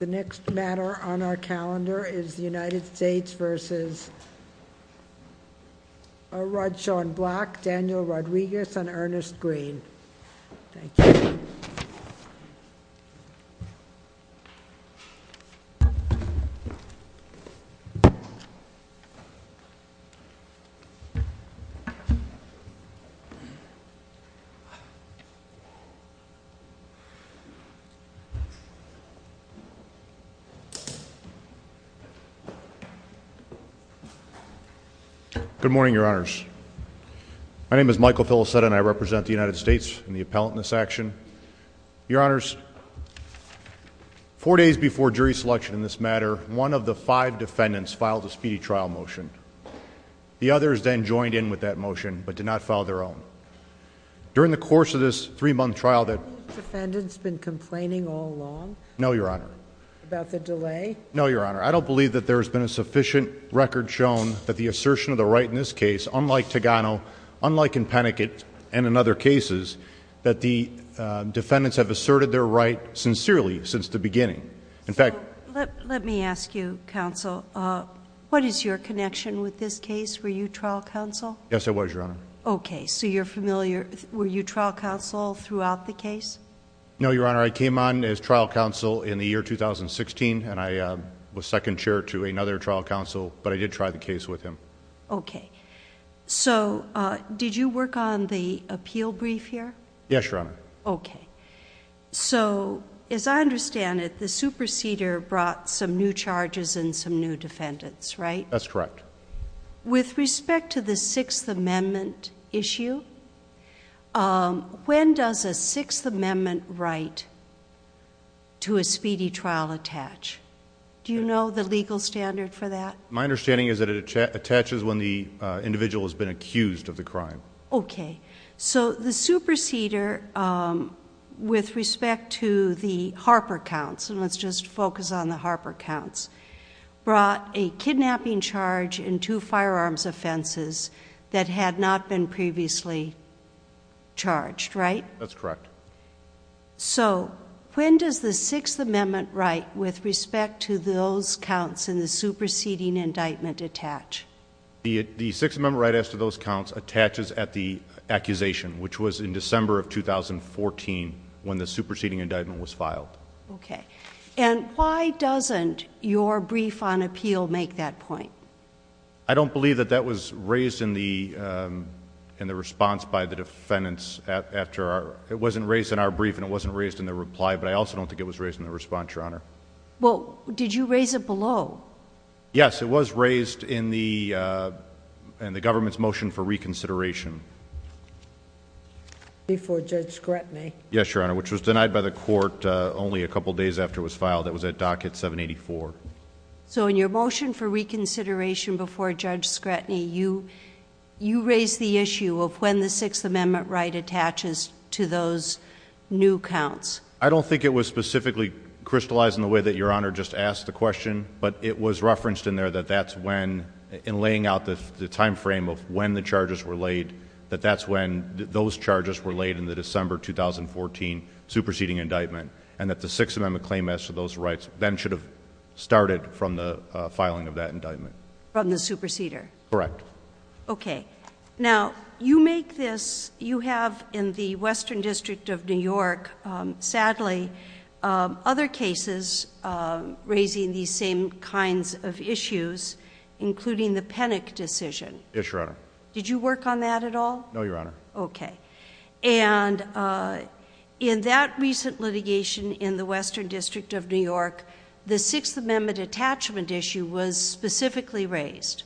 The next matter on our calendar is the United States v. Rod Shawn Black, Daniel Rodriguez, and Ernest Green. Thank you. Good morning, Your Honors. My name is Michael Filosetta, and I represent the United States in the appellant in this action. Your Honors, four days before jury selection in this matter, one of the five defendants filed a speedy trial motion. The others then joined in with that motion, but did not file their own. During the course of this three-month trial that — Have the defendants been complaining all along? No, Your Honor. About the delay? No, Your Honor. I don't believe that there has been a sufficient record shown that the assertion of the right in this case, unlike Togano, unlike in Peniket, and in other cases, that the defendants have asserted their right sincerely since the beginning. In fact — So let me ask you, Counsel, what is your connection with this case? Were you trial counsel? Yes, I was, Your Honor. Okay. So you're familiar — were you trial counsel throughout the case? No, Your Honor. I came on as trial counsel in the year 2016, and I was second chair to another trial counsel, but I did try the case with him. Okay. So, did you work on the appeal brief here? Yes, Your Honor. Okay. So, as I understand it, the superseder brought some new charges and some new defendants, right? That's correct. With respect to the Sixth Amendment issue, when does a Sixth Amendment right to a speedy trial attach? Do you know the legal standard for that? My understanding is that it attaches when the individual has been accused of the crime. Okay. So, the superseder, with respect to the Harper counts — and let's just focus on the Harper counts — brought a kidnapping charge and two firearms offenses that had not been previously charged, right? That's correct. So when does the Sixth Amendment right with respect to those counts in the superseding indictment attach? The Sixth Amendment right as to those counts attaches at the accusation, which was in December of 2014, when the superseding indictment was filed. Okay. And why doesn't your brief on appeal make that point? I don't believe that that was raised in the response by the defendants. It wasn't raised in our brief and it wasn't raised in the reply, but I also don't think it was raised in the response, Your Honor. Well, did you raise it below? Yes, it was raised in the government's motion for reconsideration. Before Judge Scrutiny. Yes, Your Honor. Which was denied by the court only a couple days after it was filed. It was at docket 784. So in your motion for reconsideration before Judge Scrutiny, you raised the issue of when the Sixth Amendment right attaches to those new counts. I don't think it was specifically crystallized in the way that Your Honor just asked the question, but it was referenced in there that that's when — in laying out the timeframe of when the charges were laid — that that's when those charges were laid in the December 2014 superseding indictment, and that the Sixth Amendment claim as to those rights then should have started from the filing of that indictment. From the superseder? Correct. Okay. Now, you make this — you have in the Western District of New York, sadly, other cases raising these same kinds of issues, including the Penick decision. Yes, Your Honor. Did you work on that at all? No, Your Honor. Okay. And in that recent litigation in the Western District of New York, the Sixth Amendment attachment issue was specifically raised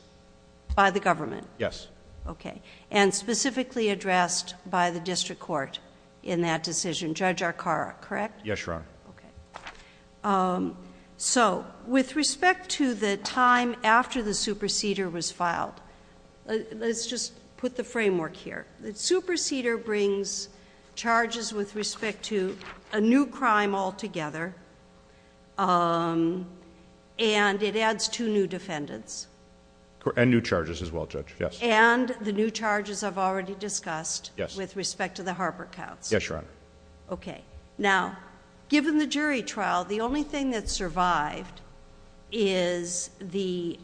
by the government? Yes. Okay. And specifically addressed by the district court in that decision. Judge Arcara, correct? Yes, Your Honor. Okay. So, with respect to the time after the superseder was filed, let's just put the framework here. The superseder brings charges with respect to a new crime altogether, and it adds two new defendants. And new charges as well, Judge, yes. And the new charges I've already discussed with respect to the Harper counts. Yes, Your Honor. Okay. Now, given the jury trial, the only thing that survived is the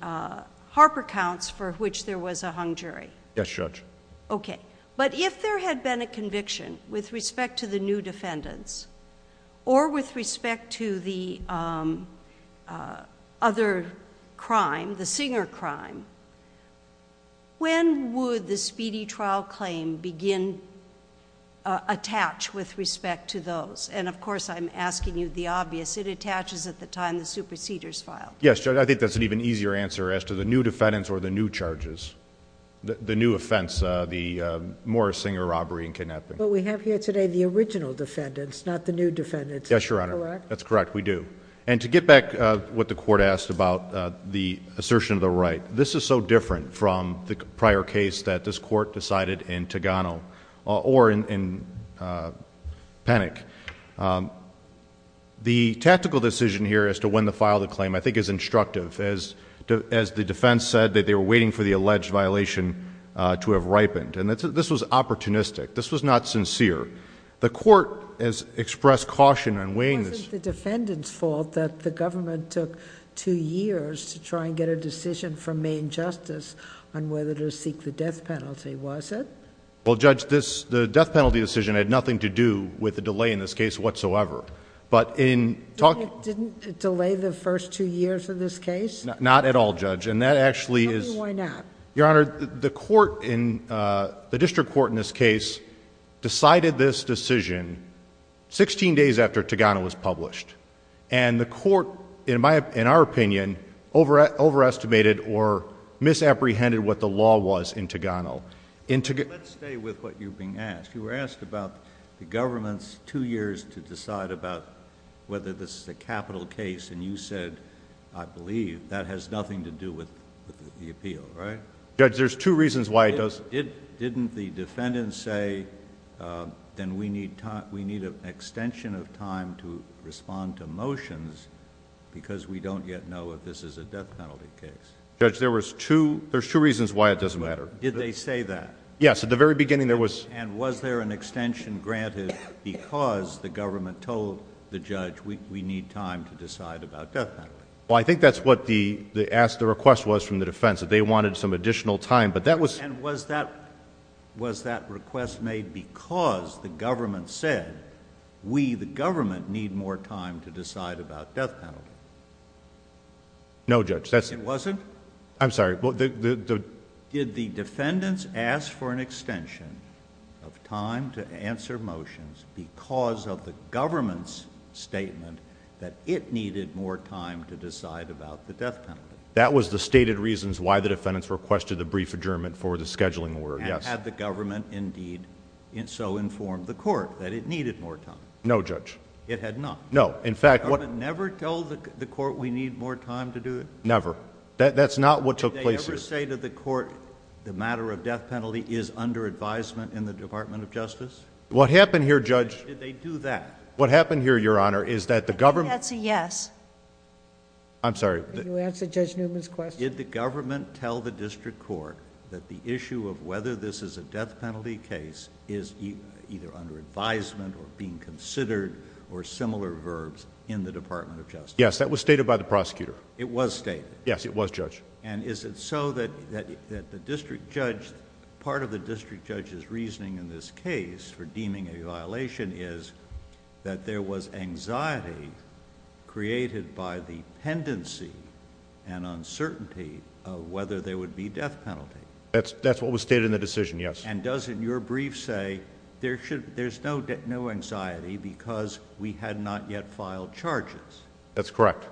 Harper counts for which there was a hung jury. Yes, Judge. Okay. But if there had been a conviction with respect to the new defendants, or with respect to the other crime, the Singer crime, when would the speedy trial claim begin, attach with respect to those? And, of course, I'm asking you the obvious. It attaches at the time the superseder's filed. Yes, Judge. I think that's an even easier answer as to the new defendants or the new charges. The new offense, the Morris-Singer robbery and kidnapping. But we have here today the original defendants, not the new defendants. Is that correct? Yes, Your Honor. That's correct. We do. And to get back to what the Court asked about the assertion of the right, this is so different from the prior case that this Court decided in Togano or in Penick. The tactical decision here as to when to file the claim, I think, is instructive. As the defense said, that they were waiting for the alleged violation to have ripened. This was opportunistic. This was not sincere. The Court has expressed caution in weighing... It wasn't the defendant's fault that the government took two years to try and get a decision from Maine Justice on whether to seek the death penalty, was it? Well, Judge, the death penalty decision had nothing to do with the delay in this case whatsoever. But in... Didn't it delay the first two years of this case? Not at all, Judge. And that actually is... Tell me why not. Your Honor, the District Court in this case decided this decision sixteen days after Togano was published. And the Court, in my... in our opinion, overestimated or misapprehended what the law was in Togano. Let's stay with what you've been asked. You were asked about the government's two years to decide about whether this is a capital case and you said, I believe, that has nothing to do with the appeal, right? Judge, there's two reasons why it does... Didn't the defendant say, then we need an extension of time to respond to motions because we don't yet know if this is a death penalty case? Judge, there's two reasons why it doesn't matter. Did they say that? Yes. At the very beginning, there was... And was there an extension granted because the government told the judge, we need time to decide about death penalty? Well, I think that's what the request was from the defense, that they wanted some additional time. But that was... And was that request made because the government said, we, the government, need more time to decide about death penalty? No, Judge. It wasn't? I'm sorry. Well, the... Did the defendants ask for an extension of time to answer motions because of the government's statement that it needed more time to decide about the death penalty? That was the stated reasons why the defendants requested the brief adjournment for the scheduling order, yes. And had the government, indeed, so informed the court that it needed more time? No, Judge. It had not? No. In fact... Never told the court, we need more time to do it? Never. That's not what took place here. Did they ever say to the court, the matter of death penalty is under advisement in the Department of Justice? What happened here, Judge... Did they do that? What happened here, Your Honor, is that the government... I think that's a yes. I'm sorry. Can you answer Judge Newman's question? Did the government tell the district court that the issue of whether this is a death penalty case is either under advisement or being considered or similar verbs in the Department of Justice? Yes. That was stated by the prosecutor. It was stated? Yes. It was, Judge. And is it so that the district judge... part of the district judge's reasoning in this an uncertainty of whether there would be death penalty? That's what was stated in the decision, yes. And does your brief say, there's no anxiety because we had not yet filed charges? That's correct.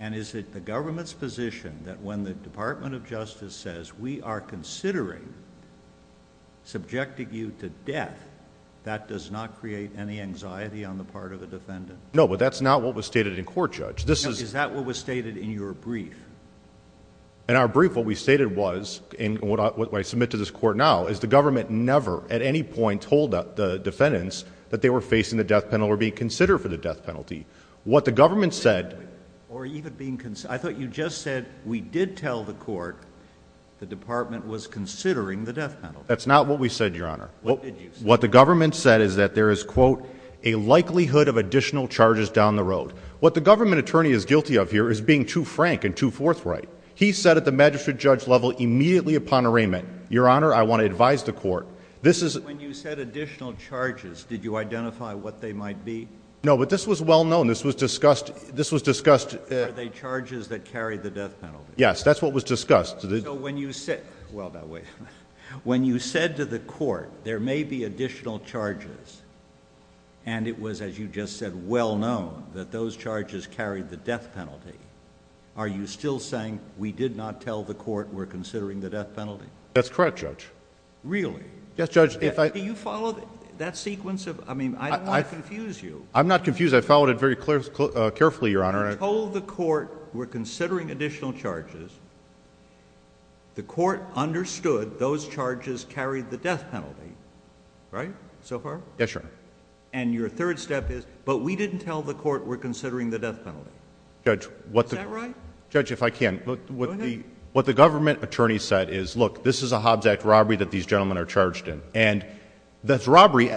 And is it the government's position that when the Department of Justice says, we are considering subjecting you to death, that does not create any anxiety on the part of the defendant? No, but that's not what was stated in court, Judge. This is... This is your brief. In our brief, what we stated was, and what I submit to this court now, is the government never at any point told the defendants that they were facing the death penalty or being considered for the death penalty. What the government said... Or even being... I thought you just said, we did tell the court the department was considering the death penalty. That's not what we said, Your Honor. What did you say? What the government said is that there is, quote, a likelihood of additional charges down the road. What the government attorney is guilty of here is being too frank and too forthright. He said at the magistrate-judge level, immediately upon arraignment, Your Honor, I want to advise the court. This is... When you said additional charges, did you identify what they might be? No, but this was well known. This was discussed... Are they charges that carry the death penalty? Yes, that's what was discussed. So, when you said... Well, that way. When you said to the court, there may be additional charges, and it was, as you just said, well known, that those charges carried the death penalty, are you still saying, we did not tell the court we're considering the death penalty? That's correct, Judge. Really? Yes, Judge. If I... Do you follow that sequence of... I mean, I don't want to confuse you. I'm not confused. I followed it very carefully, Your Honor. You told the court we're considering additional charges. The court understood those charges carried the death penalty, right, so far? Yes, Your Honor. And your third step is, but we didn't tell the court we're considering the death penalty. Is that right? Judge, if I can... Go ahead. What the government attorney said is, look, this is a Hobbs Act robbery that these gentlemen are charged in, and this robbery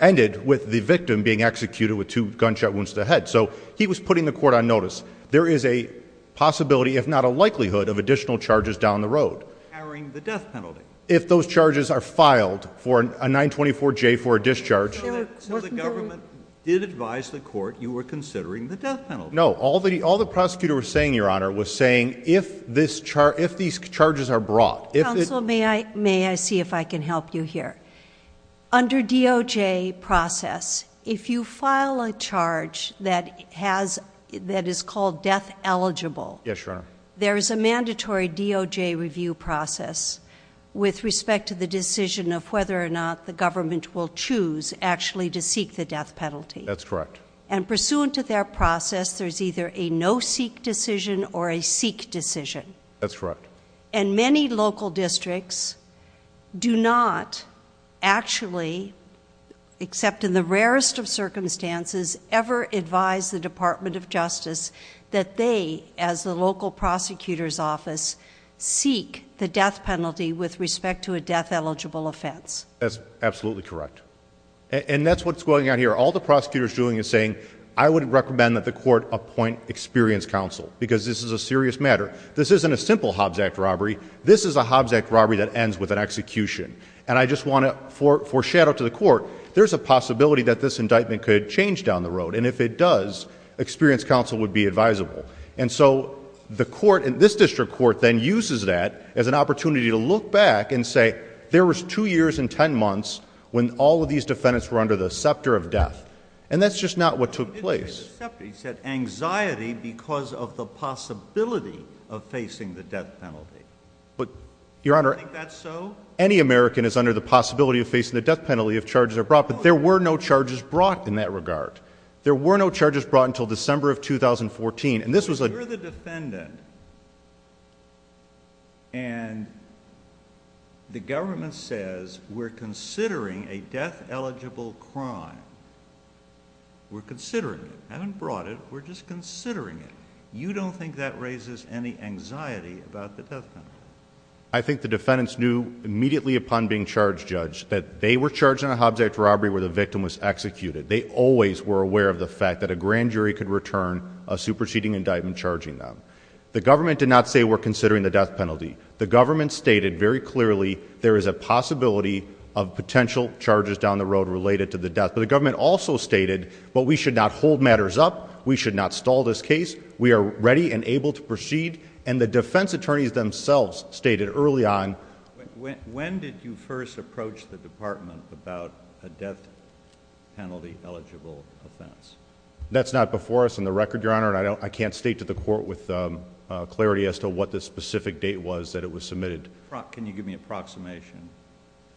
ended with the victim being executed with two gunshot wounds to the head. So, he was putting the court on notice. There is a possibility, if not a likelihood, of additional charges down the road. Carrying the death penalty. If those charges are filed for a 924J for a discharge... So, the government did advise the court you were considering the death penalty? No. All the prosecutor was saying, Your Honor, was saying if these charges are brought... Counsel, may I see if I can help you here? Under DOJ process, if you file a charge that is called death eligible... Yes, Your Honor. There is a mandatory DOJ review process with respect to the decision of whether or not the government will choose actually to seek the death penalty. That's correct. And pursuant to that process, there's either a no-seek decision or a seek decision. That's correct. And many local districts do not actually, except in the rarest of circumstances, ever advise the Department of Justice that they, as the local prosecutor's office, seek the death penalty with respect to a death eligible offense. That's absolutely correct. And that's what's going on here. All the prosecutor is doing is saying, I would recommend that the court appoint experienced counsel because this is a serious matter. This isn't a simple Hobbs Act robbery. This is a Hobbs Act robbery that ends with an execution. And I just want to foreshadow to the court, there's a possibility that this indictment could change down the road. And if it does, experienced counsel would be advisable. And so the court, this district court, then uses that as an opportunity to look back and say, there was two years and 10 months when all of these defendants were under the scepter of death. And that's just not what took place. No, he didn't say the scepter. He said anxiety because of the possibility of facing the death penalty. But Your Honor, any American is under the possibility of facing the death penalty if charges are brought. But there were no charges brought in that regard. There were no charges brought until December of 2014. And this was a. You're the defendant and the government says we're considering a death eligible crime. We're considering it. Haven't brought it. We're just considering it. You don't think that raises any anxiety about the death penalty? I think the defendants knew immediately upon being charged, Judge, that they were charged in a Hobbs Act robbery where the victim was executed. They always were aware of the fact that a grand jury could return a superseding indictment charging them. The government did not say we're considering the death penalty. The government stated very clearly there is a possibility of potential charges down the road related to the death. But the government also stated, but we should not hold matters up. We should not stall this case. We are ready and able to proceed. And the defense attorneys themselves stated early on. When did you first approach the department about a death penalty eligible offense? That's not before us on the record, Your Honor, and I can't state to the court with clarity as to what the specific date was that it was submitted. Can you give me an approximation?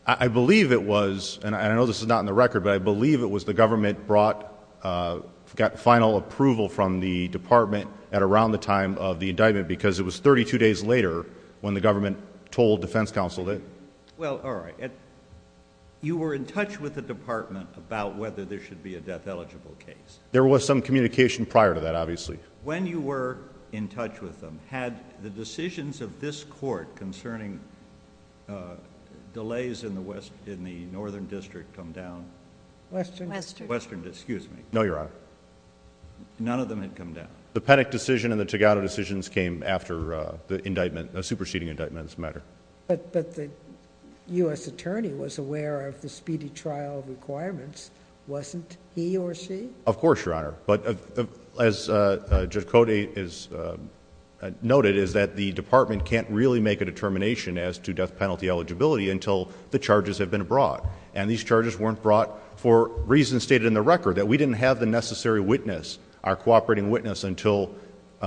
I believe it was, and I know this is not in the record, but I believe it was the government brought, got final approval from the department at around the time of the indictment because it was 32 days later when the government told defense counsel that... Well, all right. You were in touch with the department about whether there should be a death eligible case. There was some communication prior to that, obviously. When you were in touch with them, had the decisions of this court concerning delays in the northern district come down? Western. Western, excuse me. No, Your Honor. None of them had come down? The Penick decision and the Togano decisions came after the superseding indictments matter. But the U.S. attorney was aware of the speedy trial requirements. Wasn't he or she? Of course, Your Honor, but as Judge Cote has noted is that the department can't really make a determination as to death penalty eligibility until the charges have been brought, and these charges weren't brought for reasons stated in the record, that we didn't have the necessary witness, our cooperating witness, until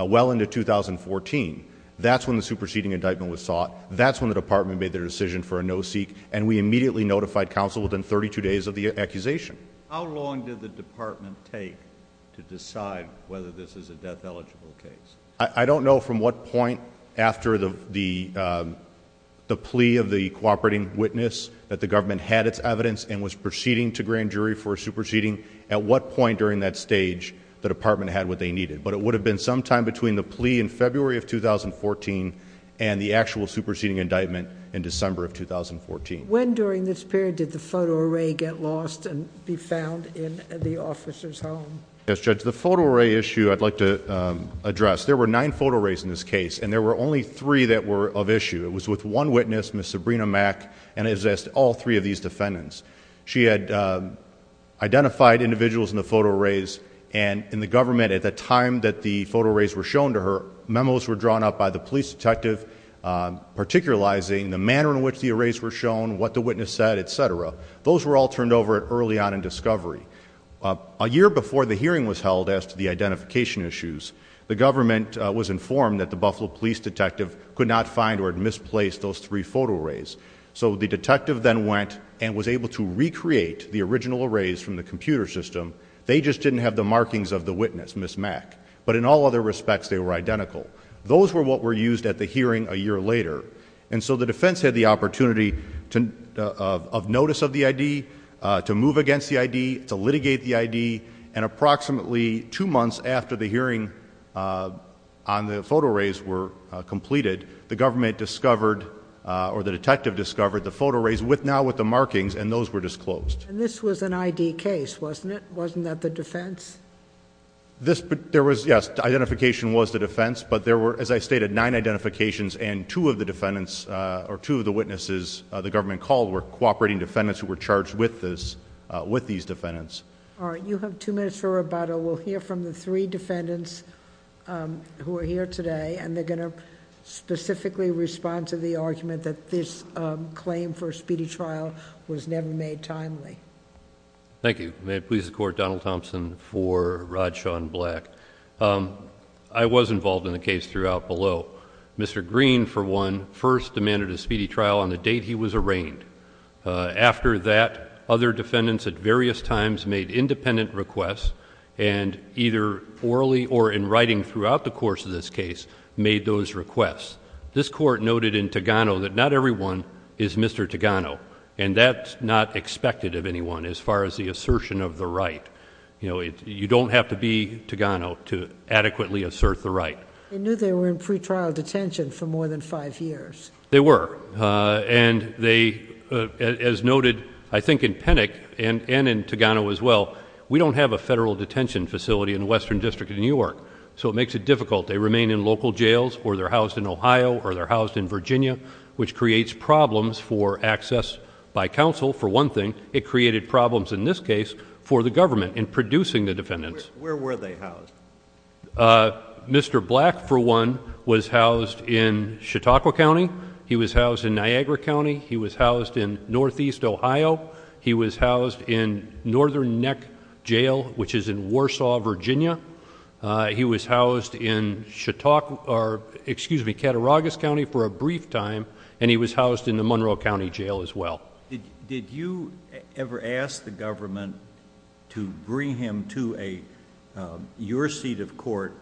well into 2014. That's when the superseding indictment was sought. That's when the department made the decision for a no-seek, and we immediately notified counsel within 32 days of the accusation. How long did the department take to decide whether this is a death eligible case? I don't know from what point after the plea of the cooperating witness that the government had its evidence and was proceeding to grand jury for superseding. At what point during that stage, the department had what they needed. But it would have been sometime between the plea in February of 2014 and the actual superseding indictment in December of 2014. When during this period did the photo array get lost and be found in the officer's home? Yes, Judge, the photo array issue I'd like to address. There were nine photo arrays in this case, and there were only three that were of issue. It was with one witness, Ms. Sabrina Mack, and it was all three of these defendants. She had identified individuals in the photo arrays, and in the government at the time that the photo arrays were shown to her, memos were drawn up by the police detective, particularizing the manner in which the arrays were shown, what the witness said, et cetera. Those were all turned over early on in discovery. A year before the hearing was held as to the identification issues, the government was informed that the Buffalo Police Detective could not find or had misplaced those three photo arrays. So the detective then went and was able to recreate the original arrays from the computer system. They just didn't have the markings of the witness, Ms. Mack. But in all other respects, they were identical. Those were what were used at the hearing a year later. And so the defense had the opportunity of notice of the ID, to move against the ID, to litigate the ID, and approximately two months after the hearing on the photo arrays were completed, the government discovered, or the detective discovered, the photo arrays now with the markings, and those were disclosed. And this was an ID case, wasn't it? Wasn't that the defense? There was, yes. Identification was the defense. But there were, as I stated, nine identifications, and two of the witnesses the government called were cooperating defendants who were charged with these defendants. All right. You have two minutes for rebuttal. We'll hear from the three defendants who are here today, and they're going to specifically respond to the argument that this claim for a speedy trial was never made timely. Thank you. May it please the Court, Donald Thompson for Rajshawn Black. I was involved in the case throughout below. Mr. Green, for one, first demanded a speedy trial on the date he was arraigned. After that, other defendants at various times made independent requests, and either orally or in writing throughout the course of this case, made those requests. This Court noted in Togano that not everyone is Mr. Togano, and that's not expected of anyone as far as the assertion of the right. You don't have to be Togano to adequately assert the right. They knew they were in pretrial detention for more than five years. They were. And they, as noted, I think in Pennick and in Togano as well, we don't have a federal detention facility in the Western District of New York, so it makes it difficult. They remain in local jails, or they're housed in Ohio, or they're housed in Virginia, which creates problems for access by counsel. For one thing, it created problems in this case for the government in producing the defendants. Where were they housed? Mr. Black, for one, was housed in Chautauqua County. He was housed in Niagara County. He was housed in Northeast Ohio. He was housed in Northern Neck Jail, which is in Warsaw, Virginia. He was housed in Chautauqua, or excuse me, Cattaraugus County for a brief time, and he was housed in the Monroe County Jail as well. Did you ever ask the government to bring him to a, your seat of court,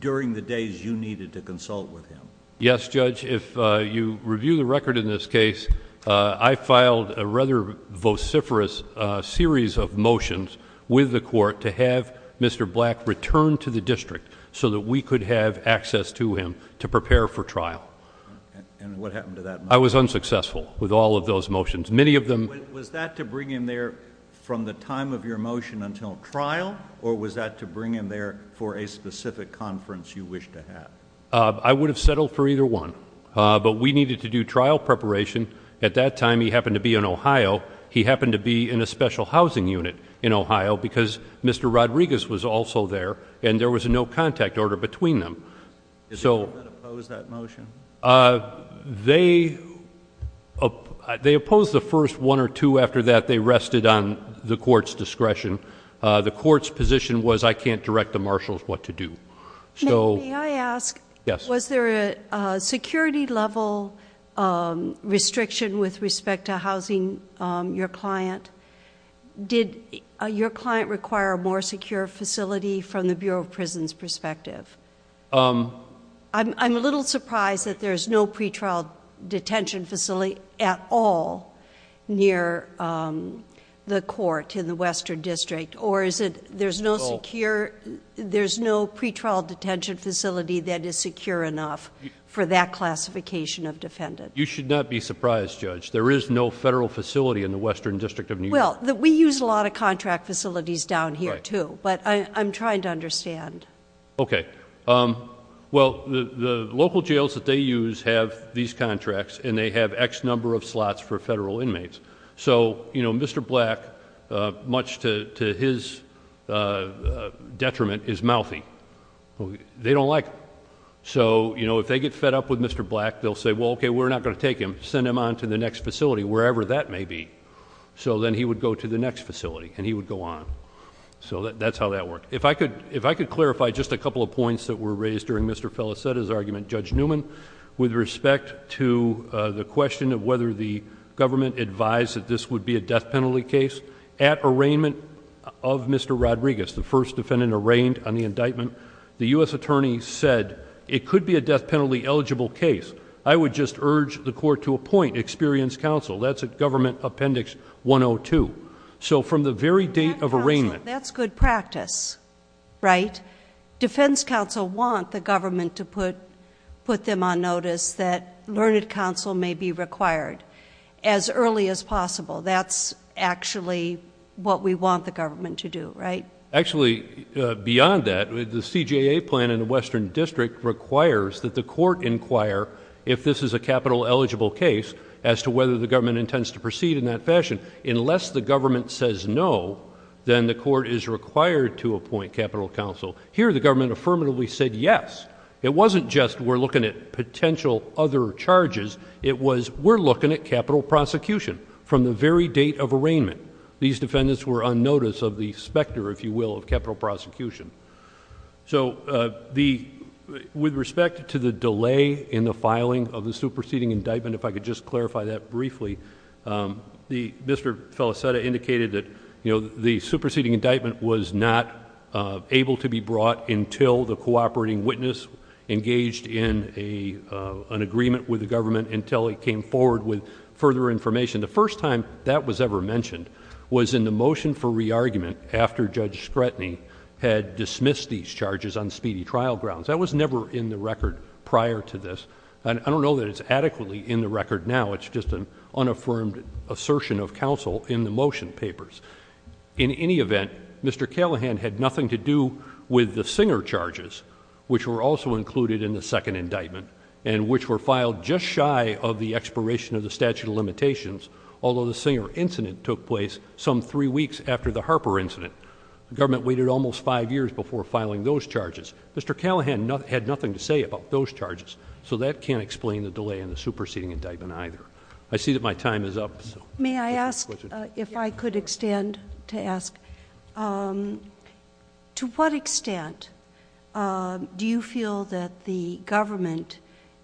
during the days you needed to consult with him? Yes, Judge, if you review the record in this case, I filed a rather vociferous series of motions with the court to have Mr. Black return to the district so that we could have access to him to prepare for trial. And what happened to that? I was unsuccessful with all of those motions. Many of them- Was that to bring him there from the time of your motion until trial, or was that to bring him there for a specific conference you wished to have? I would have settled for either one, but we needed to do trial preparation. At that time, he happened to be in Ohio. He happened to be in a special housing unit in Ohio, because Mr. Rodriguez was also there, and there was a no contact order between them. So- Did they oppose that motion? They opposed the first one or two. After that, they rested on the court's discretion. The court's position was, I can't direct the marshals what to do. May I ask, was there a security level restriction with respect to housing your client? Did your client require a more secure facility from the Bureau of Prisons' perspective? I'm a little surprised that there's no pretrial detention facility at all near the court in the Western District, or is it, there's no secure, there's no pretrial detention facility that is secure enough for that classification of defendant. You should not be surprised, Judge. There is no federal facility in the Western District of New York. Well, we use a lot of contract facilities down here, too, but I'm trying to understand. Okay. Well, the local jails that they use have these contracts, and they have X number of slots for federal inmates. So, Mr. Black, much to his detriment, is mouthy. They don't like him. So, if they get fed up with Mr. Black, they'll say, well, okay, we're not going to take him. Send him on to the next facility, wherever that may be. So then he would go to the next facility, and he would go on. So that's how that worked. If I could clarify just a couple of points that were raised during Mr. Felicetta's argument, Judge Newman, with respect to the question of whether the government advised that this would be a death penalty case, at arraignment of Mr. Rodriguez, the first defendant arraigned on the indictment, the US attorney said it could be a death penalty eligible case. I would just urge the court to appoint experienced counsel. That's at Government Appendix 102. So from the very date of arraignment- That's good practice, right? Defense counsel want the government to put them on notice that learned counsel may be required as early as possible. That's actually what we want the government to do, right? Actually, beyond that, the CJA plan in the Western District requires that the court inquire if this is a capital eligible case as to whether the government intends to proceed in that fashion. Unless the government says no, then the court is required to appoint capital counsel. Here the government affirmatively said yes. It wasn't just we're looking at potential other charges, it was we're looking at capital prosecution from the very date of arraignment. These defendants were on notice of the specter, if you will, of capital prosecution. With respect to the delay in the filing of the superseding indictment, if I could just clarify that briefly, Mr. Felicetta indicated that the superseding indictment was not able to be brought until the cooperating witness engaged in an agreement with the government until it came forward with further information. The first time that was ever mentioned was in the motion for re-argument after Judge Scretany had dismissed these charges on speedy trial grounds. That was never in the record prior to this. I don't know that it's adequately in the record now, it's just an unaffirmed assertion of counsel in the motion papers. In any event, Mr. Callahan had nothing to do with the Singer charges, which were also included in the second indictment, and which were filed just shy of the expiration of the statute of limitations, although the Singer incident took place some three weeks after the Harper incident. The government waited almost five years before filing those charges. Mr. Callahan had nothing to say about those charges, so that can't explain the delay in the superseding indictment either. I see that my time is up. May I ask, if I could extend to ask, to what extent do you feel that the government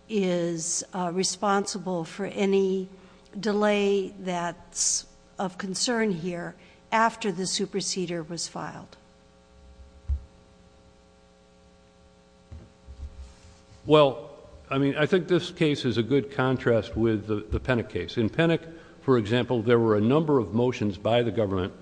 is responsible for any delay that's of concern here after the superseder was filed? Well, I mean, I think this case is a good contrast with the Pennock case. In Pennock, for example, there were a number of motions by the government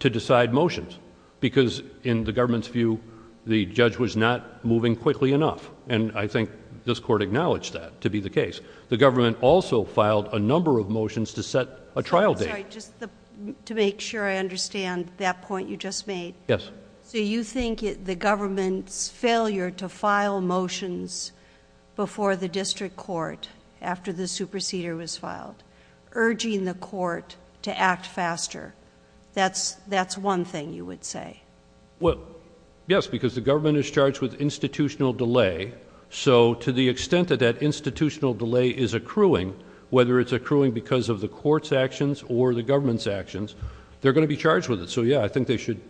to decide motions, because in the government's view, the judge was not moving quickly enough, and I think this court acknowledged that to be the case. The government also filed a number of motions to set a trial date. I'm sorry, just to make sure I understand that point you just made. Yes. So you think the government's failure to file motions before the district court, after the superseder was filed, urging the court to act faster, that's one thing you would say? Well, yes, because the government is charged with institutional delay, so to the extent that that institutional delay is accruing, whether it's accruing because of the court's actions or the government's actions, they're going to be charged with it. So yeah, I think they should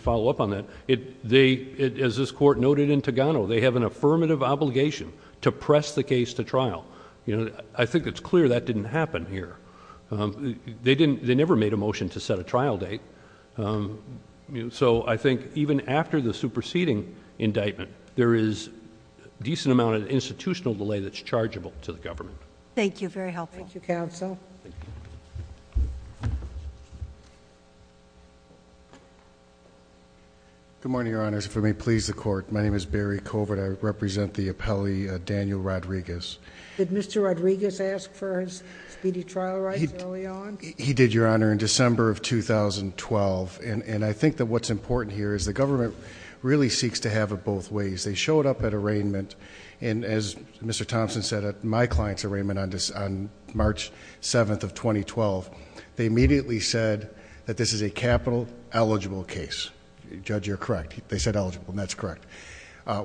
follow up on that. As this court noted in Togano, they have an affirmative obligation to press the case to I think it's clear that didn't happen here. They never made a motion to set a trial date. So I think even after the superseding indictment, there is a decent amount of institutional delay that's chargeable to the government. Thank you. Very helpful. Thank you, counsel. Good morning, Your Honors. If I may please the court, my name is Barry Covert. I represent the appellee Daniel Rodriguez. Did Mr. Rodriguez ask for his speedy trial rights early on? He did, Your Honor, in December of 2012. And I think that what's important here is the government really seeks to have it both ways. They showed up at arraignment, and as Mr. Thompson said, at my client's arraignment on March 7th of 2012, they immediately said that this is a capital eligible case. Judge, you're correct. They said eligible, and that's correct.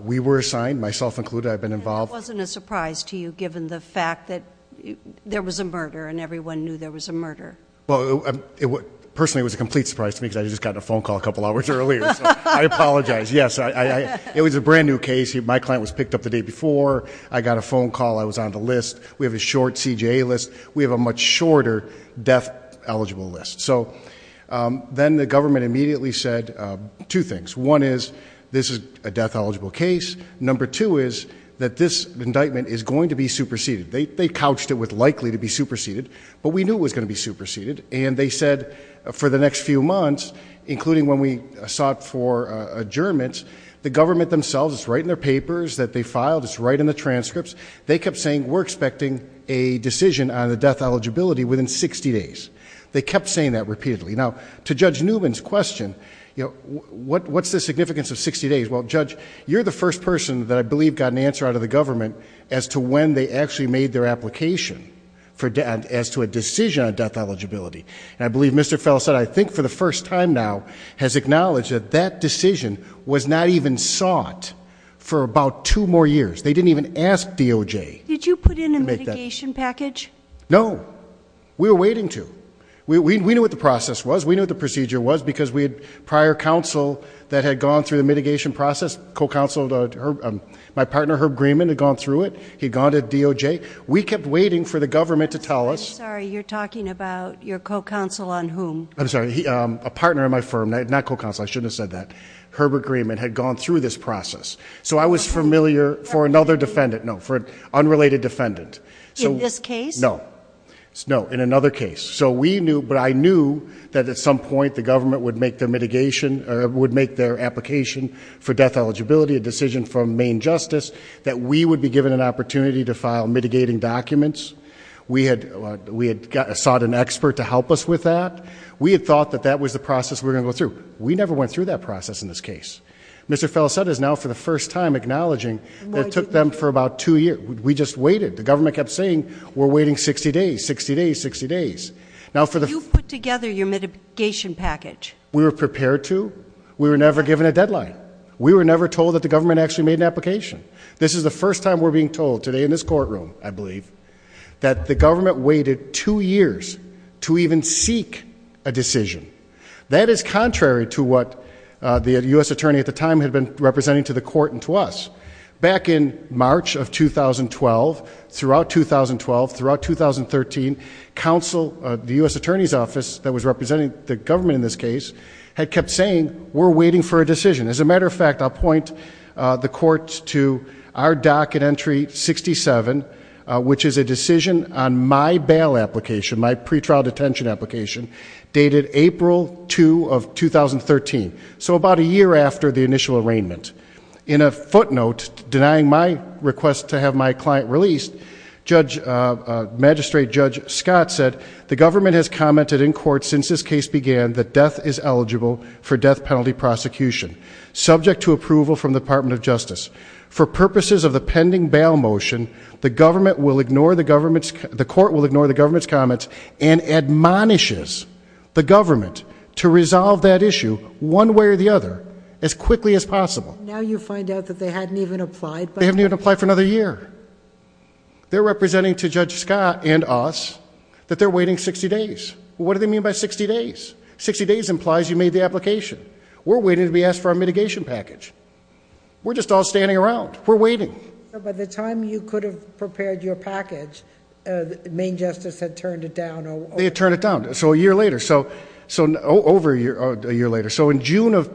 We were assigned, myself included. I've been involved. It wasn't a surprise to you, given the fact that there was a murder and everyone knew there was a murder. Well, personally, it was a complete surprise to me because I just got a phone call a couple hours earlier. So I apologize. Yes, it was a brand new case. My client was picked up the day before. I got a phone call. I was on the list. We have a short CJA list. We have a much shorter death eligible list. So then the government immediately said two things. One is this is a death eligible case. Number two is that this indictment is going to be superseded. They couched it with likely to be superseded, but we knew it was going to be superseded. And they said for the next few months, including when we sought for adjournments, the government themselves, it's right in their papers that they filed. It's right in the transcripts. They kept saying we're expecting a decision on the death eligibility within 60 days. They kept saying that repeatedly. Now, to Judge Newman's question, what's the significance of 60 days? Well, Judge, you're the first person that I believe got an answer out of the government as to when they actually made their application as to a decision on death eligibility. And I believe Mr. Fellow said, I think for the first time now has acknowledged that that decision was not even sought for about two more years. They didn't even ask DOJ. Did you put in a mitigation package? No, we were waiting to. We knew what the process was. We knew what the procedure was because we had prior counsel that had gone through the process, my partner Herb Greenman had gone through it. He'd gone to DOJ. We kept waiting for the government to tell us. I'm sorry, you're talking about your co-counsel on whom? I'm sorry, a partner in my firm, not co-counsel, I shouldn't have said that. Herbert Greenman had gone through this process. So I was familiar for another defendant, no, for an unrelated defendant. In this case? No, no, in another case. So we knew, but I knew that at some point the government would make their mitigation or would make their application for death eligibility, a decision from main justice, that we would be given an opportunity to file mitigating documents. We had sought an expert to help us with that. We had thought that that was the process we were going to go through. We never went through that process in this case. Mr. Felicetta is now for the first time acknowledging that it took them for about two years. We just waited. The government kept saying, we're waiting 60 days, 60 days, 60 days. Now for the- You've put together your mitigation package. We were prepared to, we were never given a deadline. We were never told that the government actually made an application. This is the first time we're being told today in this courtroom, I believe, that the government waited two years to even seek a decision. That is contrary to what the U.S. attorney at the time had been representing to the court and to us. Back in March of 2012, throughout 2012, throughout 2013, counsel of the U.S. attorney's office that was representing the government in this case had kept saying, we're waiting for a decision. As a matter of fact, I'll point the court to our docket entry 67, which is a decision on my bail application, my pretrial detention application, dated April 2 of 2013. So about a year after the initial arraignment. In a footnote denying my request to have my client released, Judge, Magistrate Judge Scott said, the government has commented in court since this case began that death is eligible for death penalty prosecution, subject to approval from the Department of Justice. For purposes of the pending bail motion, the government will ignore the government's, the court will ignore the government's comments and admonishes the government to resolve that issue one way or the other as quickly as possible. Now you find out that they hadn't even applied. They haven't even applied for another year. They're representing to Judge Scott and us that they're waiting 60 days. What do they mean by 60 days? 60 days implies you made the application. We're waiting to be asked for our mitigation package. We're just all standing around. We're waiting. By the time you could have prepared your package, Maine Justice had turned it down. They had turned it down. So a year later. So, so over a year later. So in June of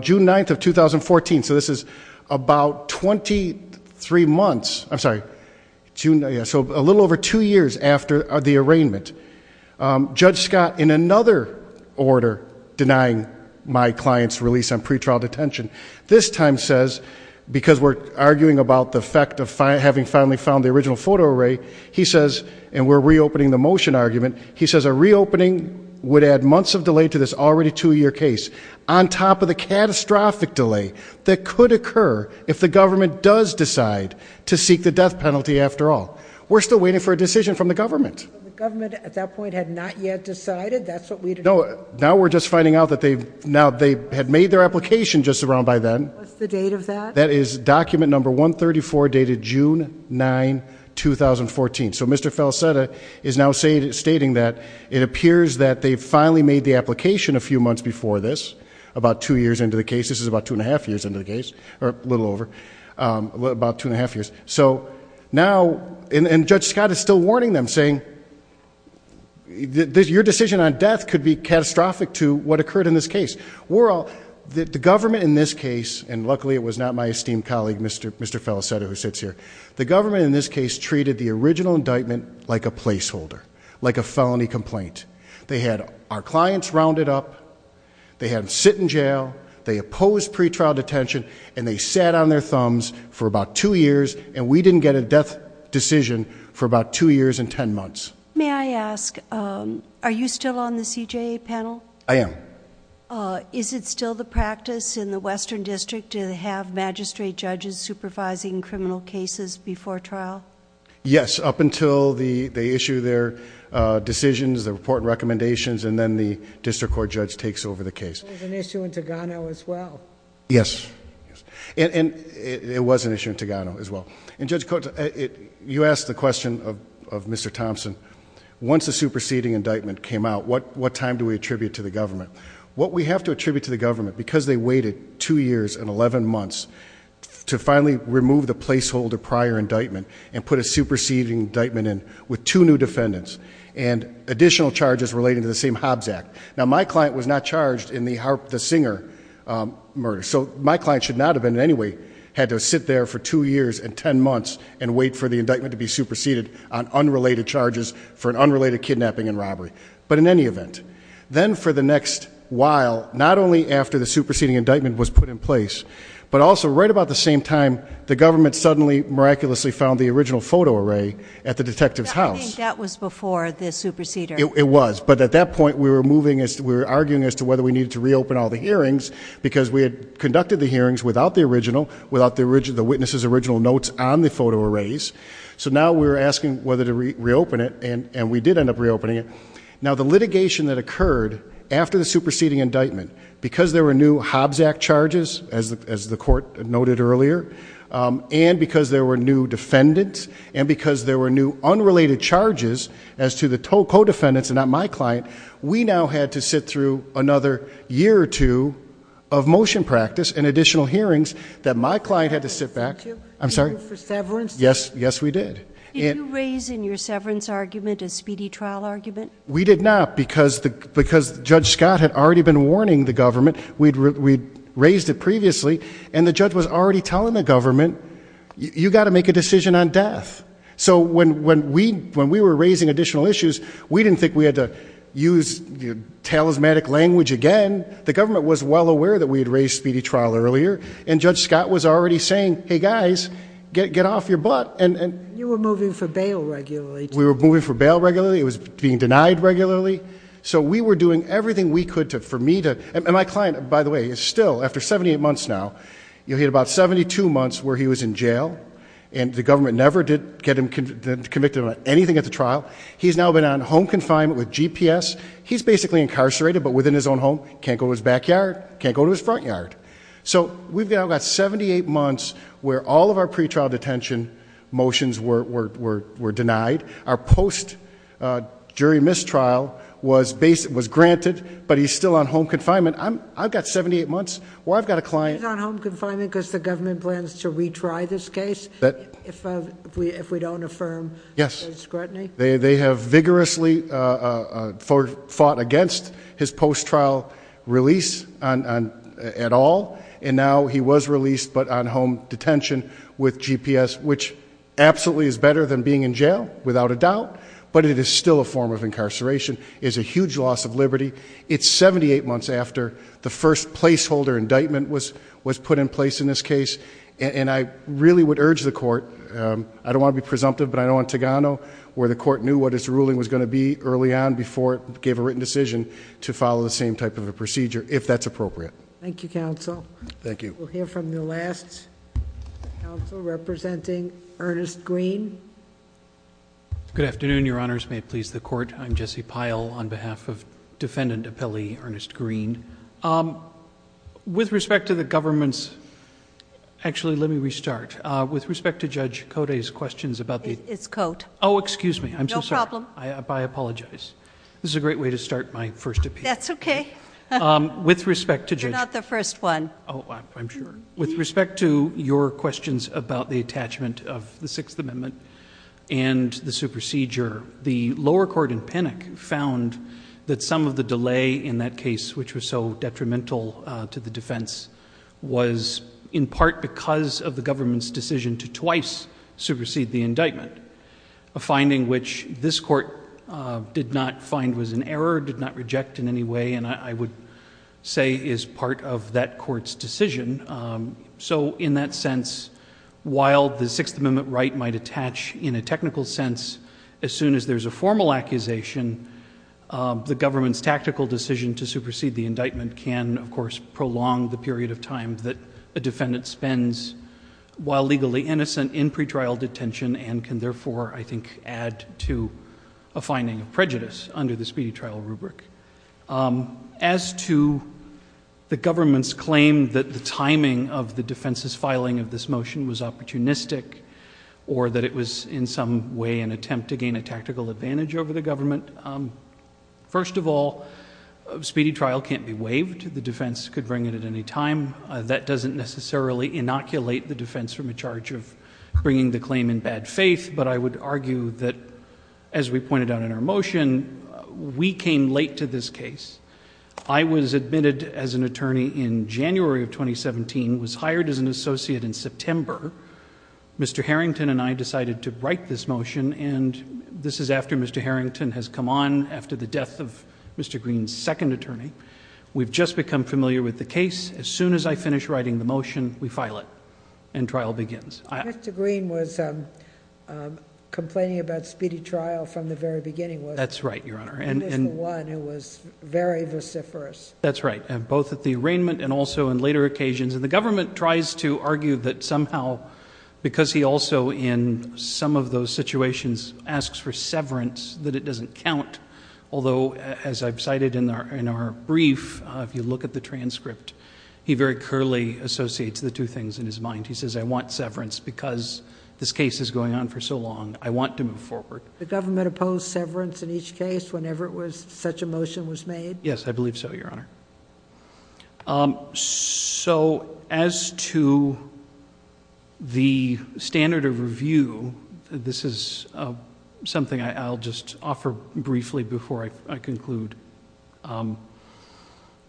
June 9th of 2014. So this is about 23 months. I'm sorry. So a little over two years after the arraignment. Judge Scott, in another order, denying my client's release on pretrial detention. This time says, because we're arguing about the effect of having finally found the original photo array, he says, and we're reopening the motion argument. He says a reopening would add months of delay to this already two-year case on top of the catastrophic delay that could occur if the government does decide to seek the death penalty. After all, we're still waiting for a decision from the government. The government at that point had not yet decided. That's what we know. Now we're just finding out that they've now, they had made their application just around by then. What's the date of that? That is document number 134 dated June 9, 2014. So Mr. Falsetta is now saying, stating that it appears that they finally made the application a few months before this. About two years into the case. This is about two and a half years into the case, or a little over. About two and a half years. So now, and Judge Scott is still warning them saying, your decision on death could be catastrophic to what occurred in this case. We're all, the government in this case, and luckily it was not my esteemed colleague, Mr. Falsetta, who sits here. The government in this case treated the original indictment like a placeholder, like a felony complaint. They had our clients rounded up. They had them sit in jail. They opposed pretrial detention. And they sat on their thumbs for about two years, and we didn't get a death decision for about two years and ten months. May I ask, are you still on the CJA panel? I am. Is it still the practice in the Western District to have magistrate judges supervising criminal cases before trial? Yes, up until they issue their decisions, their report and recommendations, and then the district court judge takes over the case. It was an issue in Togano as well. Yes. And it was an issue in Togano as well. And Judge Coates, you asked the question of Mr. Thompson. Once a superseding indictment came out, what time do we attribute to the government? What we have to attribute to the government, because they waited two years and 11 months to finally remove the placeholder prior indictment and put a superseding indictment in with two new defendants and additional charges relating to the same Hobbs Act. Now, my client was not charged in the Singer murder, so my client should not have in any way had to sit there for two years and ten months and wait for the indictment to be superseded on unrelated charges for an unrelated kidnapping and robbery. But in any event, then for the next while, not only after the superseding indictment was put in place, but also right about the same time, the government suddenly miraculously found the original photo array at the detective's house. I think that was before the superseding. It was. But at that point, we were arguing as to whether we needed to reopen all the hearings because we had conducted the hearings without the original, without the witness's original notes on the photo arrays. So now we're asking whether to reopen it, and we did end up reopening it. Now, the litigation that occurred after the superseding indictment, because there were new Hobbs Act charges, as the court noted earlier, and because there were new defendants, and because there were new unrelated charges as to the co-defendants and not my client, we now had to sit through another year or two of motion practice and additional hearings that my client had to sit back. I'm sorry? For severance? Yes. Yes, we did. Did you raise in your severance argument a speedy trial argument? We did not because Judge Scott had already been warning the government. We'd raised it previously, and the judge was already telling the government, you got to make a decision on death. So when we were raising additional issues, we didn't think we had to use your talismanic language again. The government was well aware that we had raised speedy trial earlier, and Judge Scott was already saying, hey guys, get off your butt. And you were moving for bail regularly. We were moving for bail regularly. It was being denied regularly. So we were doing everything we could to, for me to, and my client, by the way, is still, after 78 months now, you'll hear about 72 months where he was in jail, and the government never did get him convicted on anything at the trial. He's now been on home confinement with GPS. He's basically incarcerated, but within his own home. Can't go to his backyard. Can't go to his front yard. So we've now got 78 months where all of our pre-trial detention motions were denied. Our post-jury mistrial was granted, but he's still on home confinement. I've got 78 months where I've got a client- Because the government plans to retry this case if we don't affirm scrutiny? They have vigorously fought against his post-trial release at all. And now he was released, but on home detention with GPS, which absolutely is better than being in jail, without a doubt. But it is still a form of incarceration. It's a huge loss of liberty. It's 78 months after the first placeholder indictment was put in place in this case, and I really would urge the court, I don't want to be presumptive, but I know in Togano where the court knew what its ruling was going to be early on before it gave a written decision to follow the same type of a procedure, if that's appropriate. Thank you, counsel. Thank you. We'll hear from the last counsel, representing Ernest Green. Good afternoon, your honors. May it please the court. I'm Jesse Pyle on behalf of defendant appellee, Ernest Green. With respect to the government's... actually, let me restart. With respect to Judge Cote's questions about the... It's Cote. Oh, excuse me. I'm so sorry. No problem. I apologize. This is a great way to start my first appeal. That's okay. With respect to Judge... You're not the first one. Oh, I'm sure. With respect to your questions about the attachment of the Sixth Amendment and the procedure, the lower court in Pinnock found that some of the delay in that case, which was so detrimental to the defense, was in part because of the government's decision to twice supersede the indictment, a finding which this court did not find was an error, did not reject in any way, and I would say is part of that court's decision. So in that sense, while the Sixth Amendment right might attach in a technical sense, as soon as there's a formal accusation, the government's tactical decision to supersede the indictment can, of course, prolong the period of time that a defendant spends, while legally innocent, in pretrial detention and can therefore, I think, add to a finding of prejudice under the speedy trial rubric. As to the government's claim that the timing of the defense's filing of this motion was opportunistic or that it was, in some way, an attempt to gain a tactical advantage over the government, first of all, speedy trial can't be waived. The defense could bring it at any time. That doesn't necessarily inoculate the defense from a charge of bringing the claim in bad faith, but I would argue that, as we pointed out in our motion, we came late to this case. I was admitted as an attorney in January of 2017, was hired as an associate in September. Mr. Harrington and I decided to write this motion, and this is after Mr. Harrington has come on after the death of Mr. Green's second attorney. We've just become familiar with the case. As soon as I finish writing the motion, we file it, and trial begins. Mr. Green was complaining about speedy trial from the very beginning, wasn't he? That's right, Your Honor. He was the one who was very vociferous. That's right, both at the arraignment and also in later occasions. And the government tries to argue that somehow, because he also, in some of those situations, asks for severance, that it doesn't count. Although, as I've cited in our brief, if you look at the transcript, he very curly associates the two things in his mind. He says, I want severance because this case is going on for so long. I want to move forward. The government opposed severance in each case whenever such a motion was made? Yes, I believe so, Your Honor. As to the standard of review, this is something I'll just offer briefly before I conclude.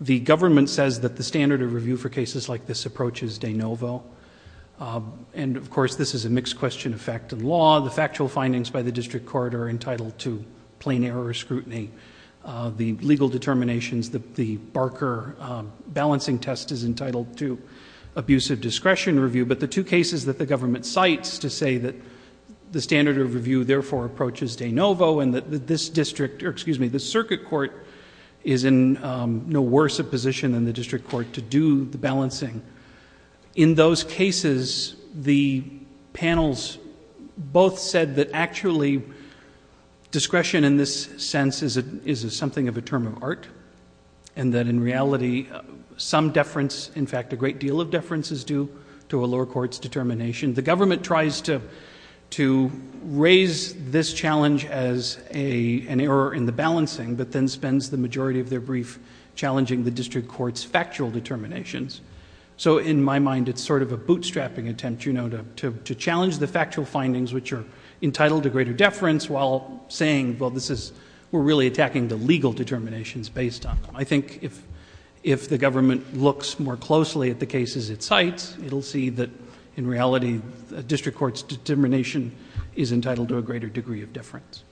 The government says that the standard of review for cases like this approaches de novo, and of course, this is a mixed question of fact and law. The factual findings by the district court are entitled to plain error or scrutiny. The legal determinations, the Barker balancing test is entitled to abusive discretion review, but the two cases that the government cites to say that the standard of review, therefore, approaches de novo, and that this circuit court is in no worse a position than the district court to do the balancing. In those cases, the panels both said that actually discretion in this sense is something of a term of art, and that in reality, some deference, in fact, a great deal of deference is due to a lower court's determination. The government tries to raise this challenge as an error in the balancing, but then spends the majority of their brief challenging the district court's factual determinations. In my mind, it's sort of a bootstrapping attempt to challenge the factual findings which are entitled to greater deference while saying, well, we're really attacking the legal determinations based on them. I think if the government looks more closely at the cases it cites, it'll see that in reality, a district court's determination is entitled to a greater degree of deference.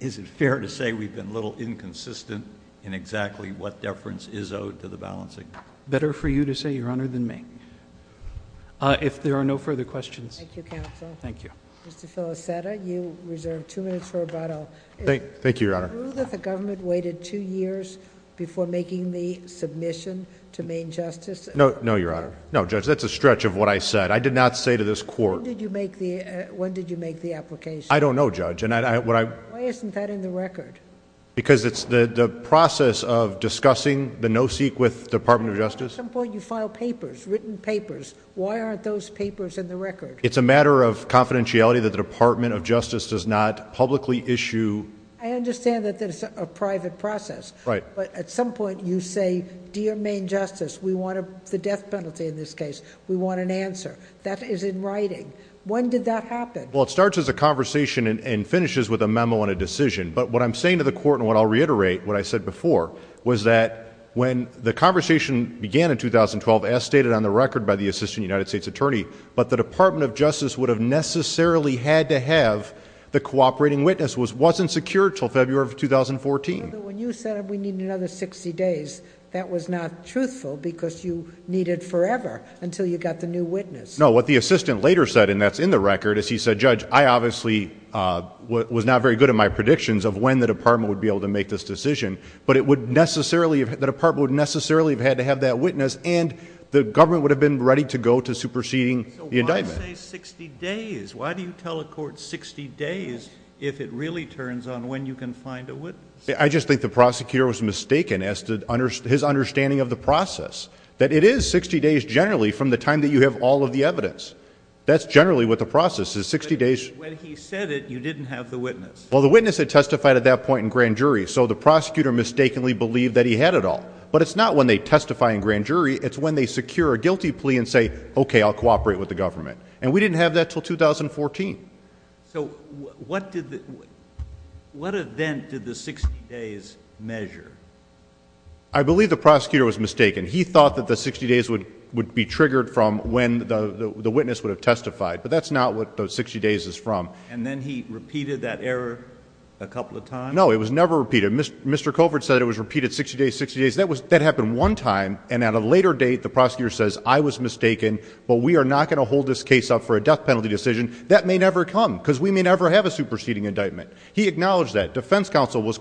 Is it fair to say we've been a little inconsistent in exactly what deference is owed to the balancing? Better for you to say, Your Honor, than me. If there are no further questions... Thank you, counsel. Thank you. Mr. Felicetta, you reserve two minutes for rebuttal. Thank you, Your Honor. Is it true that the government waited two years before making the submission to Maine Justice? No, Your Honor. I did not say to this court... When did you make the application? I don't know, Judge. Why isn't that in the record? Because it's the process of discussing the no-seq with the Department of Justice. But at some point, you file papers, written papers. Why aren't those papers in the record? It's a matter of confidentiality that the Department of Justice does not publicly issue... I understand that it's a private process, but at some point, you say, Dear Maine Justice, we want the death penalty in this case. We want an answer. That is in writing. When did that happen? Well, it starts as a conversation and finishes with a memo and a decision. But what I'm saying to the court, and what I'll reiterate, what I said before, was that when the conversation began in 2012, as stated on the record by the Assistant United States Attorney, but the Department of Justice would have necessarily had to have the cooperating witness, wasn't secured until February of 2014. When you said, we need another 60 days, that was not truthful because you needed forever until you got the new witness. No, what the assistant later said, and that's in the record, is he said, Judge, I obviously was not very good at my predictions of when the department would be able to make this decision, but it would necessarily, the department would necessarily have had to have that witness and the government would have been ready to go to superseding the indictment. So, why say 60 days? Why do you tell a court 60 days if it really turns on when you can find a witness? I just think the prosecutor was mistaken as to his understanding of the process. That it is 60 days generally from the time that you have all of the evidence. That's generally what the process is, 60 days. When he said it, you didn't have the witness. Well, the witness had testified at that point in grand jury, so the prosecutor mistakenly believed that he had it all. But it's not when they testify in grand jury, it's when they secure a guilty plea and say, okay, I'll cooperate with the government. And we didn't have that until 2014. So, what did the, what event did the 60 days measure? I believe the prosecutor was mistaken. He thought that the 60 days would be triggered from when the witness would have testified. But that's not what the 60 days is from. And then he repeated that error a couple of times? No, it was never repeated. Mr. Colbert said it was repeated 60 days, 60 days. That happened one time, and at a later date, the prosecutor says, I was mistaken, but we are not going to hold this case up for a death penalty decision. That may never come, because we may never have a superseding indictment. He acknowledged that. Defense counsel was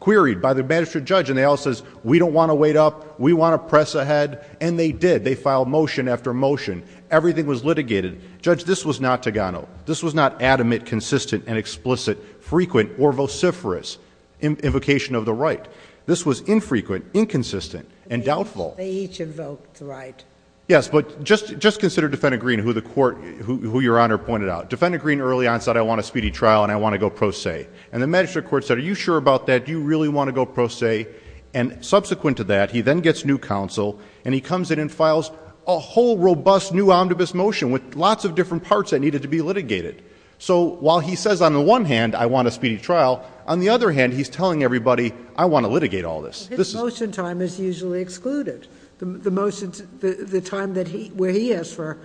queried by the magistrate judge, and they all says, we don't want to press ahead. And they did. They filed motion after motion. Everything was litigated. Judge, this was not Togano. This was not adamant, consistent, and explicit, frequent, or vociferous invocation of the right. This was infrequent, inconsistent, and doubtful. They each invoked the right. Yes, but just consider Defendant Green, who the court, who your Honor pointed out. Defendant Green early on said, I want a speedy trial, and I want to go pro se. And the magistrate court said, are you sure about that? Do you really want to go pro se? And subsequent to that, he then gets new counsel, and he comes in and files a whole robust new omnibus motion with lots of different parts that needed to be litigated. So while he says, on the one hand, I want a speedy trial, on the other hand, he's telling everybody, I want to litigate all this. His motion time is usually excluded, the time where he asks for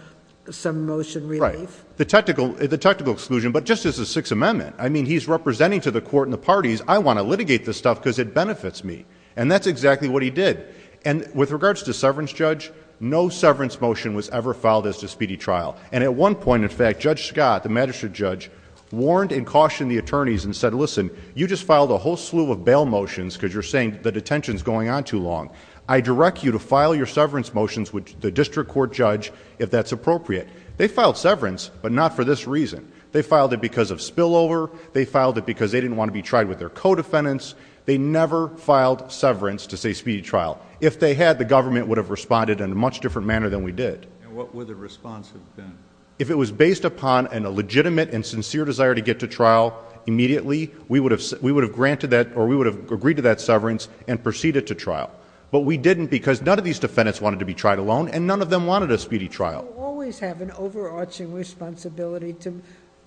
some motion relief. Right. The technical exclusion. But just as a Sixth Amendment, I mean, he's representing to the court and the parties, I want to litigate this stuff because it benefits me. And that's exactly what he did. And with regards to severance, Judge, no severance motion was ever filed as to speedy trial. And at one point, in fact, Judge Scott, the magistrate judge, warned and cautioned the attorneys and said, listen, you just filed a whole slew of bail motions because you're saying the detention's going on too long. I direct you to file your severance motions with the district court judge if that's appropriate. They filed severance, but not for this reason. They filed it because of spillover. They filed it because they didn't want to be tried with their co-defendants. They never filed severance to say speedy trial. If they had, the government would have responded in a much different manner than we did. And what would the response have been? If it was based upon a legitimate and sincere desire to get to trial immediately, we would have granted that or we would have agreed to that severance and proceeded to trial. But we didn't because none of these defendants wanted to be tried alone and none of them wanted a speedy trial. You always have an overarching responsibility to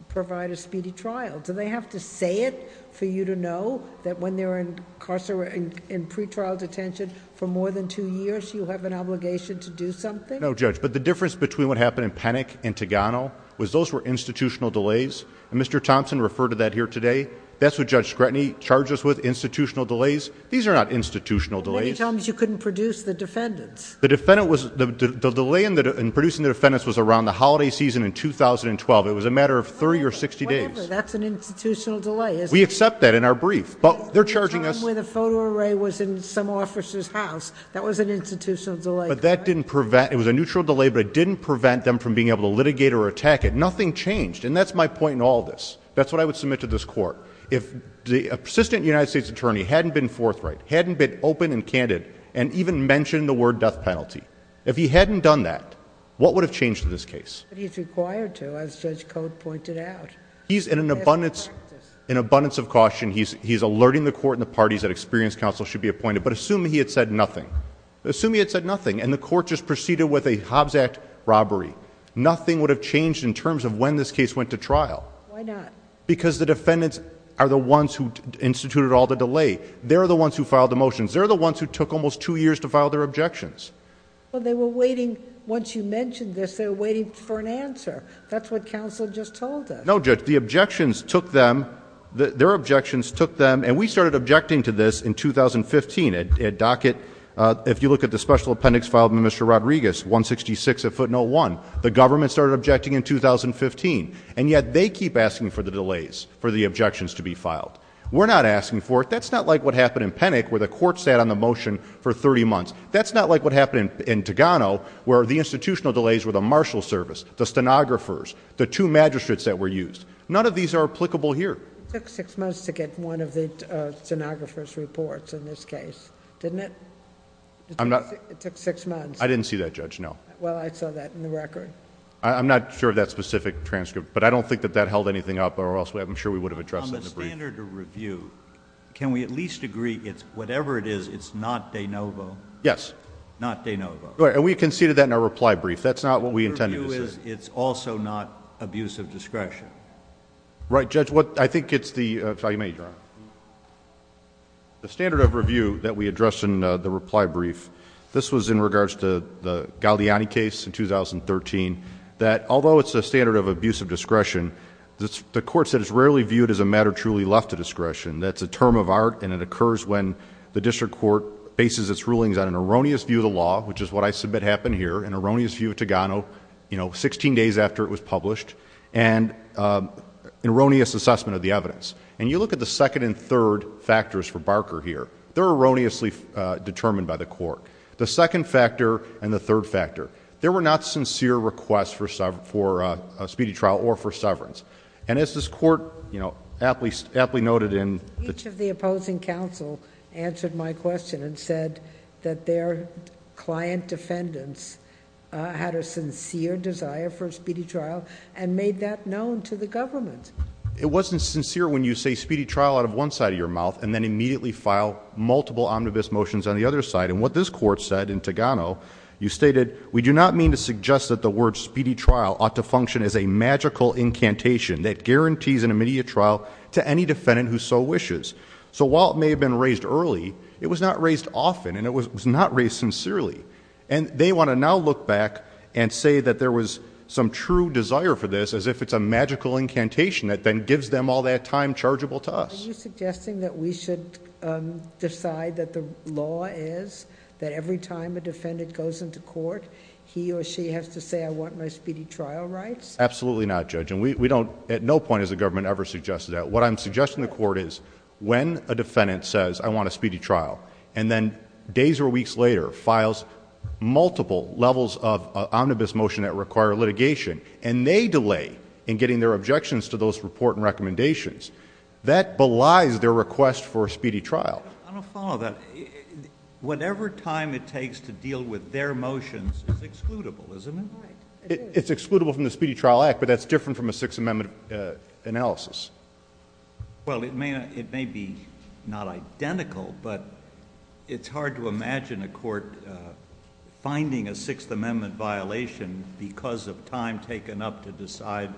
provide a speedy trial. Do they have to say it for you to know that when they're incarcerated in pre-trial detention for more than two years, you have an obligation to do something? No, Judge, but the difference between what happened in Penick and Togano was those were institutional delays. And Mr. Thompson referred to that here today. That's what Judge Scrutiny charged us with, institutional delays. These are not institutional delays. But you told me you couldn't produce the defendants. The defendant was, the delay in producing the defendants was around the holiday season in 2012. It was a matter of 30 or 60 days. That's an institutional delay. We accept that in our brief, but they're charging us. The time where the photo array was in some officer's house, that was an institutional delay. But that didn't prevent, it was a neutral delay, but it didn't prevent them from being able to litigate or attack it. Nothing changed. And that's my point in all this. That's what I would submit to this court. If the assistant United States attorney hadn't been forthright, hadn't been open and If he hadn't done that, what would have changed in this case? But he's required to, as Judge Cote pointed out. He's in an abundance of caution. He's alerting the court and the parties that experienced counsel should be appointed. But assume he had said nothing. Assume he had said nothing and the court just proceeded with a Hobbs Act robbery. Nothing would have changed in terms of when this case went to trial. Why not? Because the defendants are the ones who instituted all the delay. They're the ones who filed the motions. They're the ones who took almost two years to file their objections. Well, they were waiting. Once you mentioned this, they were waiting for an answer. That's what counsel just told us. No, Judge. The objections took them. Their objections took them. And we started objecting to this in 2015. At docket, if you look at the special appendix filed by Mr. Rodriguez, 166 at foot no one. The government started objecting in 2015. And yet they keep asking for the delays for the objections to be filed. We're not asking for it. That's not like what happened in Penick where the court sat on the motion for 30 months. That's not like what happened in Togano where the institutional delays were the marshal service, the stenographers, the two magistrates that were used. None of these are applicable here. It took six months to get one of the stenographer's reports in this case, didn't it? It took six months. I didn't see that, Judge, no. Well, I saw that in the record. I'm not sure of that specific transcript. But I don't think that that held anything up or else I'm sure we would have addressed it. On the standard of review, can we at least agree it's whatever it is, it's not de novo? Yes. Not de novo. We conceded that in our reply brief. That's not what we intended to say. It's also not abuse of discretion. Right, Judge. The standard of review that we addressed in the reply brief, this was in regards to the Galeani case in 2013, that although it's a standard of abuse of discretion, the court said it's rarely viewed as a matter truly left to discretion. That's a term of art and it occurs when the district court bases its rulings on an erroneous view of the law, which is what I submit happened here, an erroneous view of Togano, you know, 16 days after it was published, and an erroneous assessment of the evidence. And you look at the second and third factors for Barker here. They're erroneously determined by the court. The second factor and the third factor. There were not sincere requests for a speedy trial or for severance. And as this court, you know, aptly noted in the— Each of the opposing counsel answered my question and said that their client defendants had a sincere desire for a speedy trial and made that known to the government. It wasn't sincere when you say speedy trial out of one side of your mouth and then immediately file multiple omnibus motions on the other side. What this court said in Togano, you stated, we do not mean to suggest that the word speedy trial ought to function as a magical incantation that guarantees an immediate trial to any defendant who so wishes. So while it may have been raised early, it was not raised often and it was not raised sincerely. And they want to now look back and say that there was some true desire for this as if it's a magical incantation that then gives them all that time chargeable to us. Are you suggesting that we should decide that the law is that every time a defendant goes into court, he or she has to say I want my speedy trial rights? Absolutely not, Judge. And we don't, at no point has the government ever suggested that. What I'm suggesting to the court is when a defendant says I want a speedy trial and then days or weeks later files multiple levels of omnibus motion that require litigation and they delay in getting their objections to those report and recommendations, that belies their request for a speedy trial. I'll follow that. Whatever time it takes to deal with their motions is excludable, isn't it? Right. It's excludable from the Speedy Trial Act, but that's different from a Sixth Amendment analysis. Well, it may be not identical, but it's hard to imagine a court finding a Sixth Amendment violation because of time taken up to decide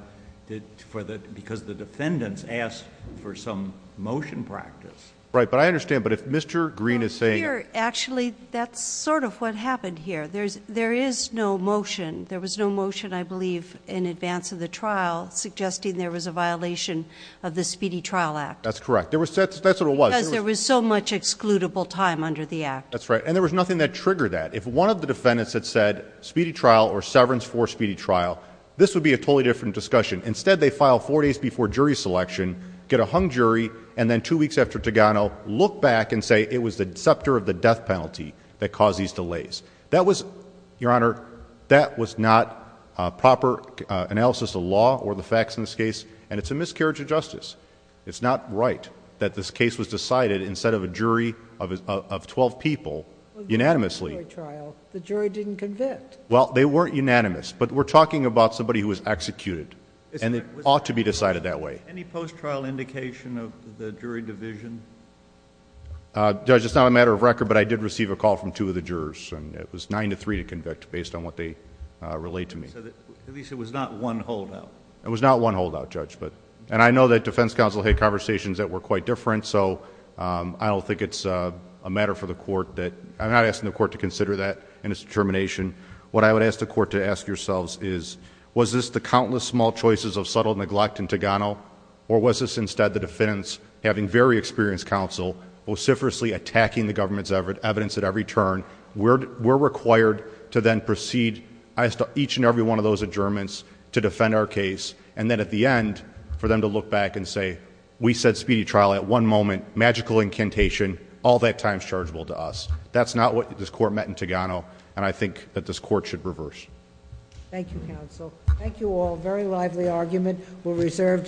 because the defendants asked for some motion practice. Right. But I understand, but if Mr. Green is saying... Well, here, actually, that's sort of what happened here. There is no motion. There was no motion, I believe, in advance of the trial suggesting there was a violation of the Speedy Trial Act. That's correct. That's what it was. Because there was so much excludable time under the act. That's right. And there was nothing that triggered that. If one of the defendants had said speedy trial or severance for speedy trial, this would be a totally different discussion. Instead, they file four days before jury selection, get a hung jury, and then two weeks after Togano, look back and say it was the deceptor of the death penalty that caused these delays. That was, Your Honor, that was not a proper analysis of law or the facts in this case, and it's a miscarriage of justice. It's not right that this case was decided instead of a jury of 12 people unanimously. The jury didn't convict. Well, they weren't unanimous, but we're talking about somebody who was executed, and it ought to be decided that way. Any post-trial indication of the jury division? Judge, it's not a matter of record, but I did receive a call from two of the jurors, and it was nine to three to convict based on what they relayed to me. At least it was not one holdout. It was not one holdout, Judge, but... and I know that defense counsel had conversations that were quite different, so I don't think it's a matter for the court to consider that in its determination. What I would ask the court to ask yourselves is, was this the countless small choices of subtle neglect in Togano, or was this instead the defendants having very experienced counsel, vociferously attacking the government's evidence at every turn? We're required to then proceed as to each and every one of those adjournments to defend our case, and then at the end, for them to look back and say, we said speedy trial at one moment, magical incantation, all that time's chargeable to us. That's not what this court met in Togano, and I think that this court should reverse. Thank you, counsel. Thank you all. Very lively argument. We'll reserve decision.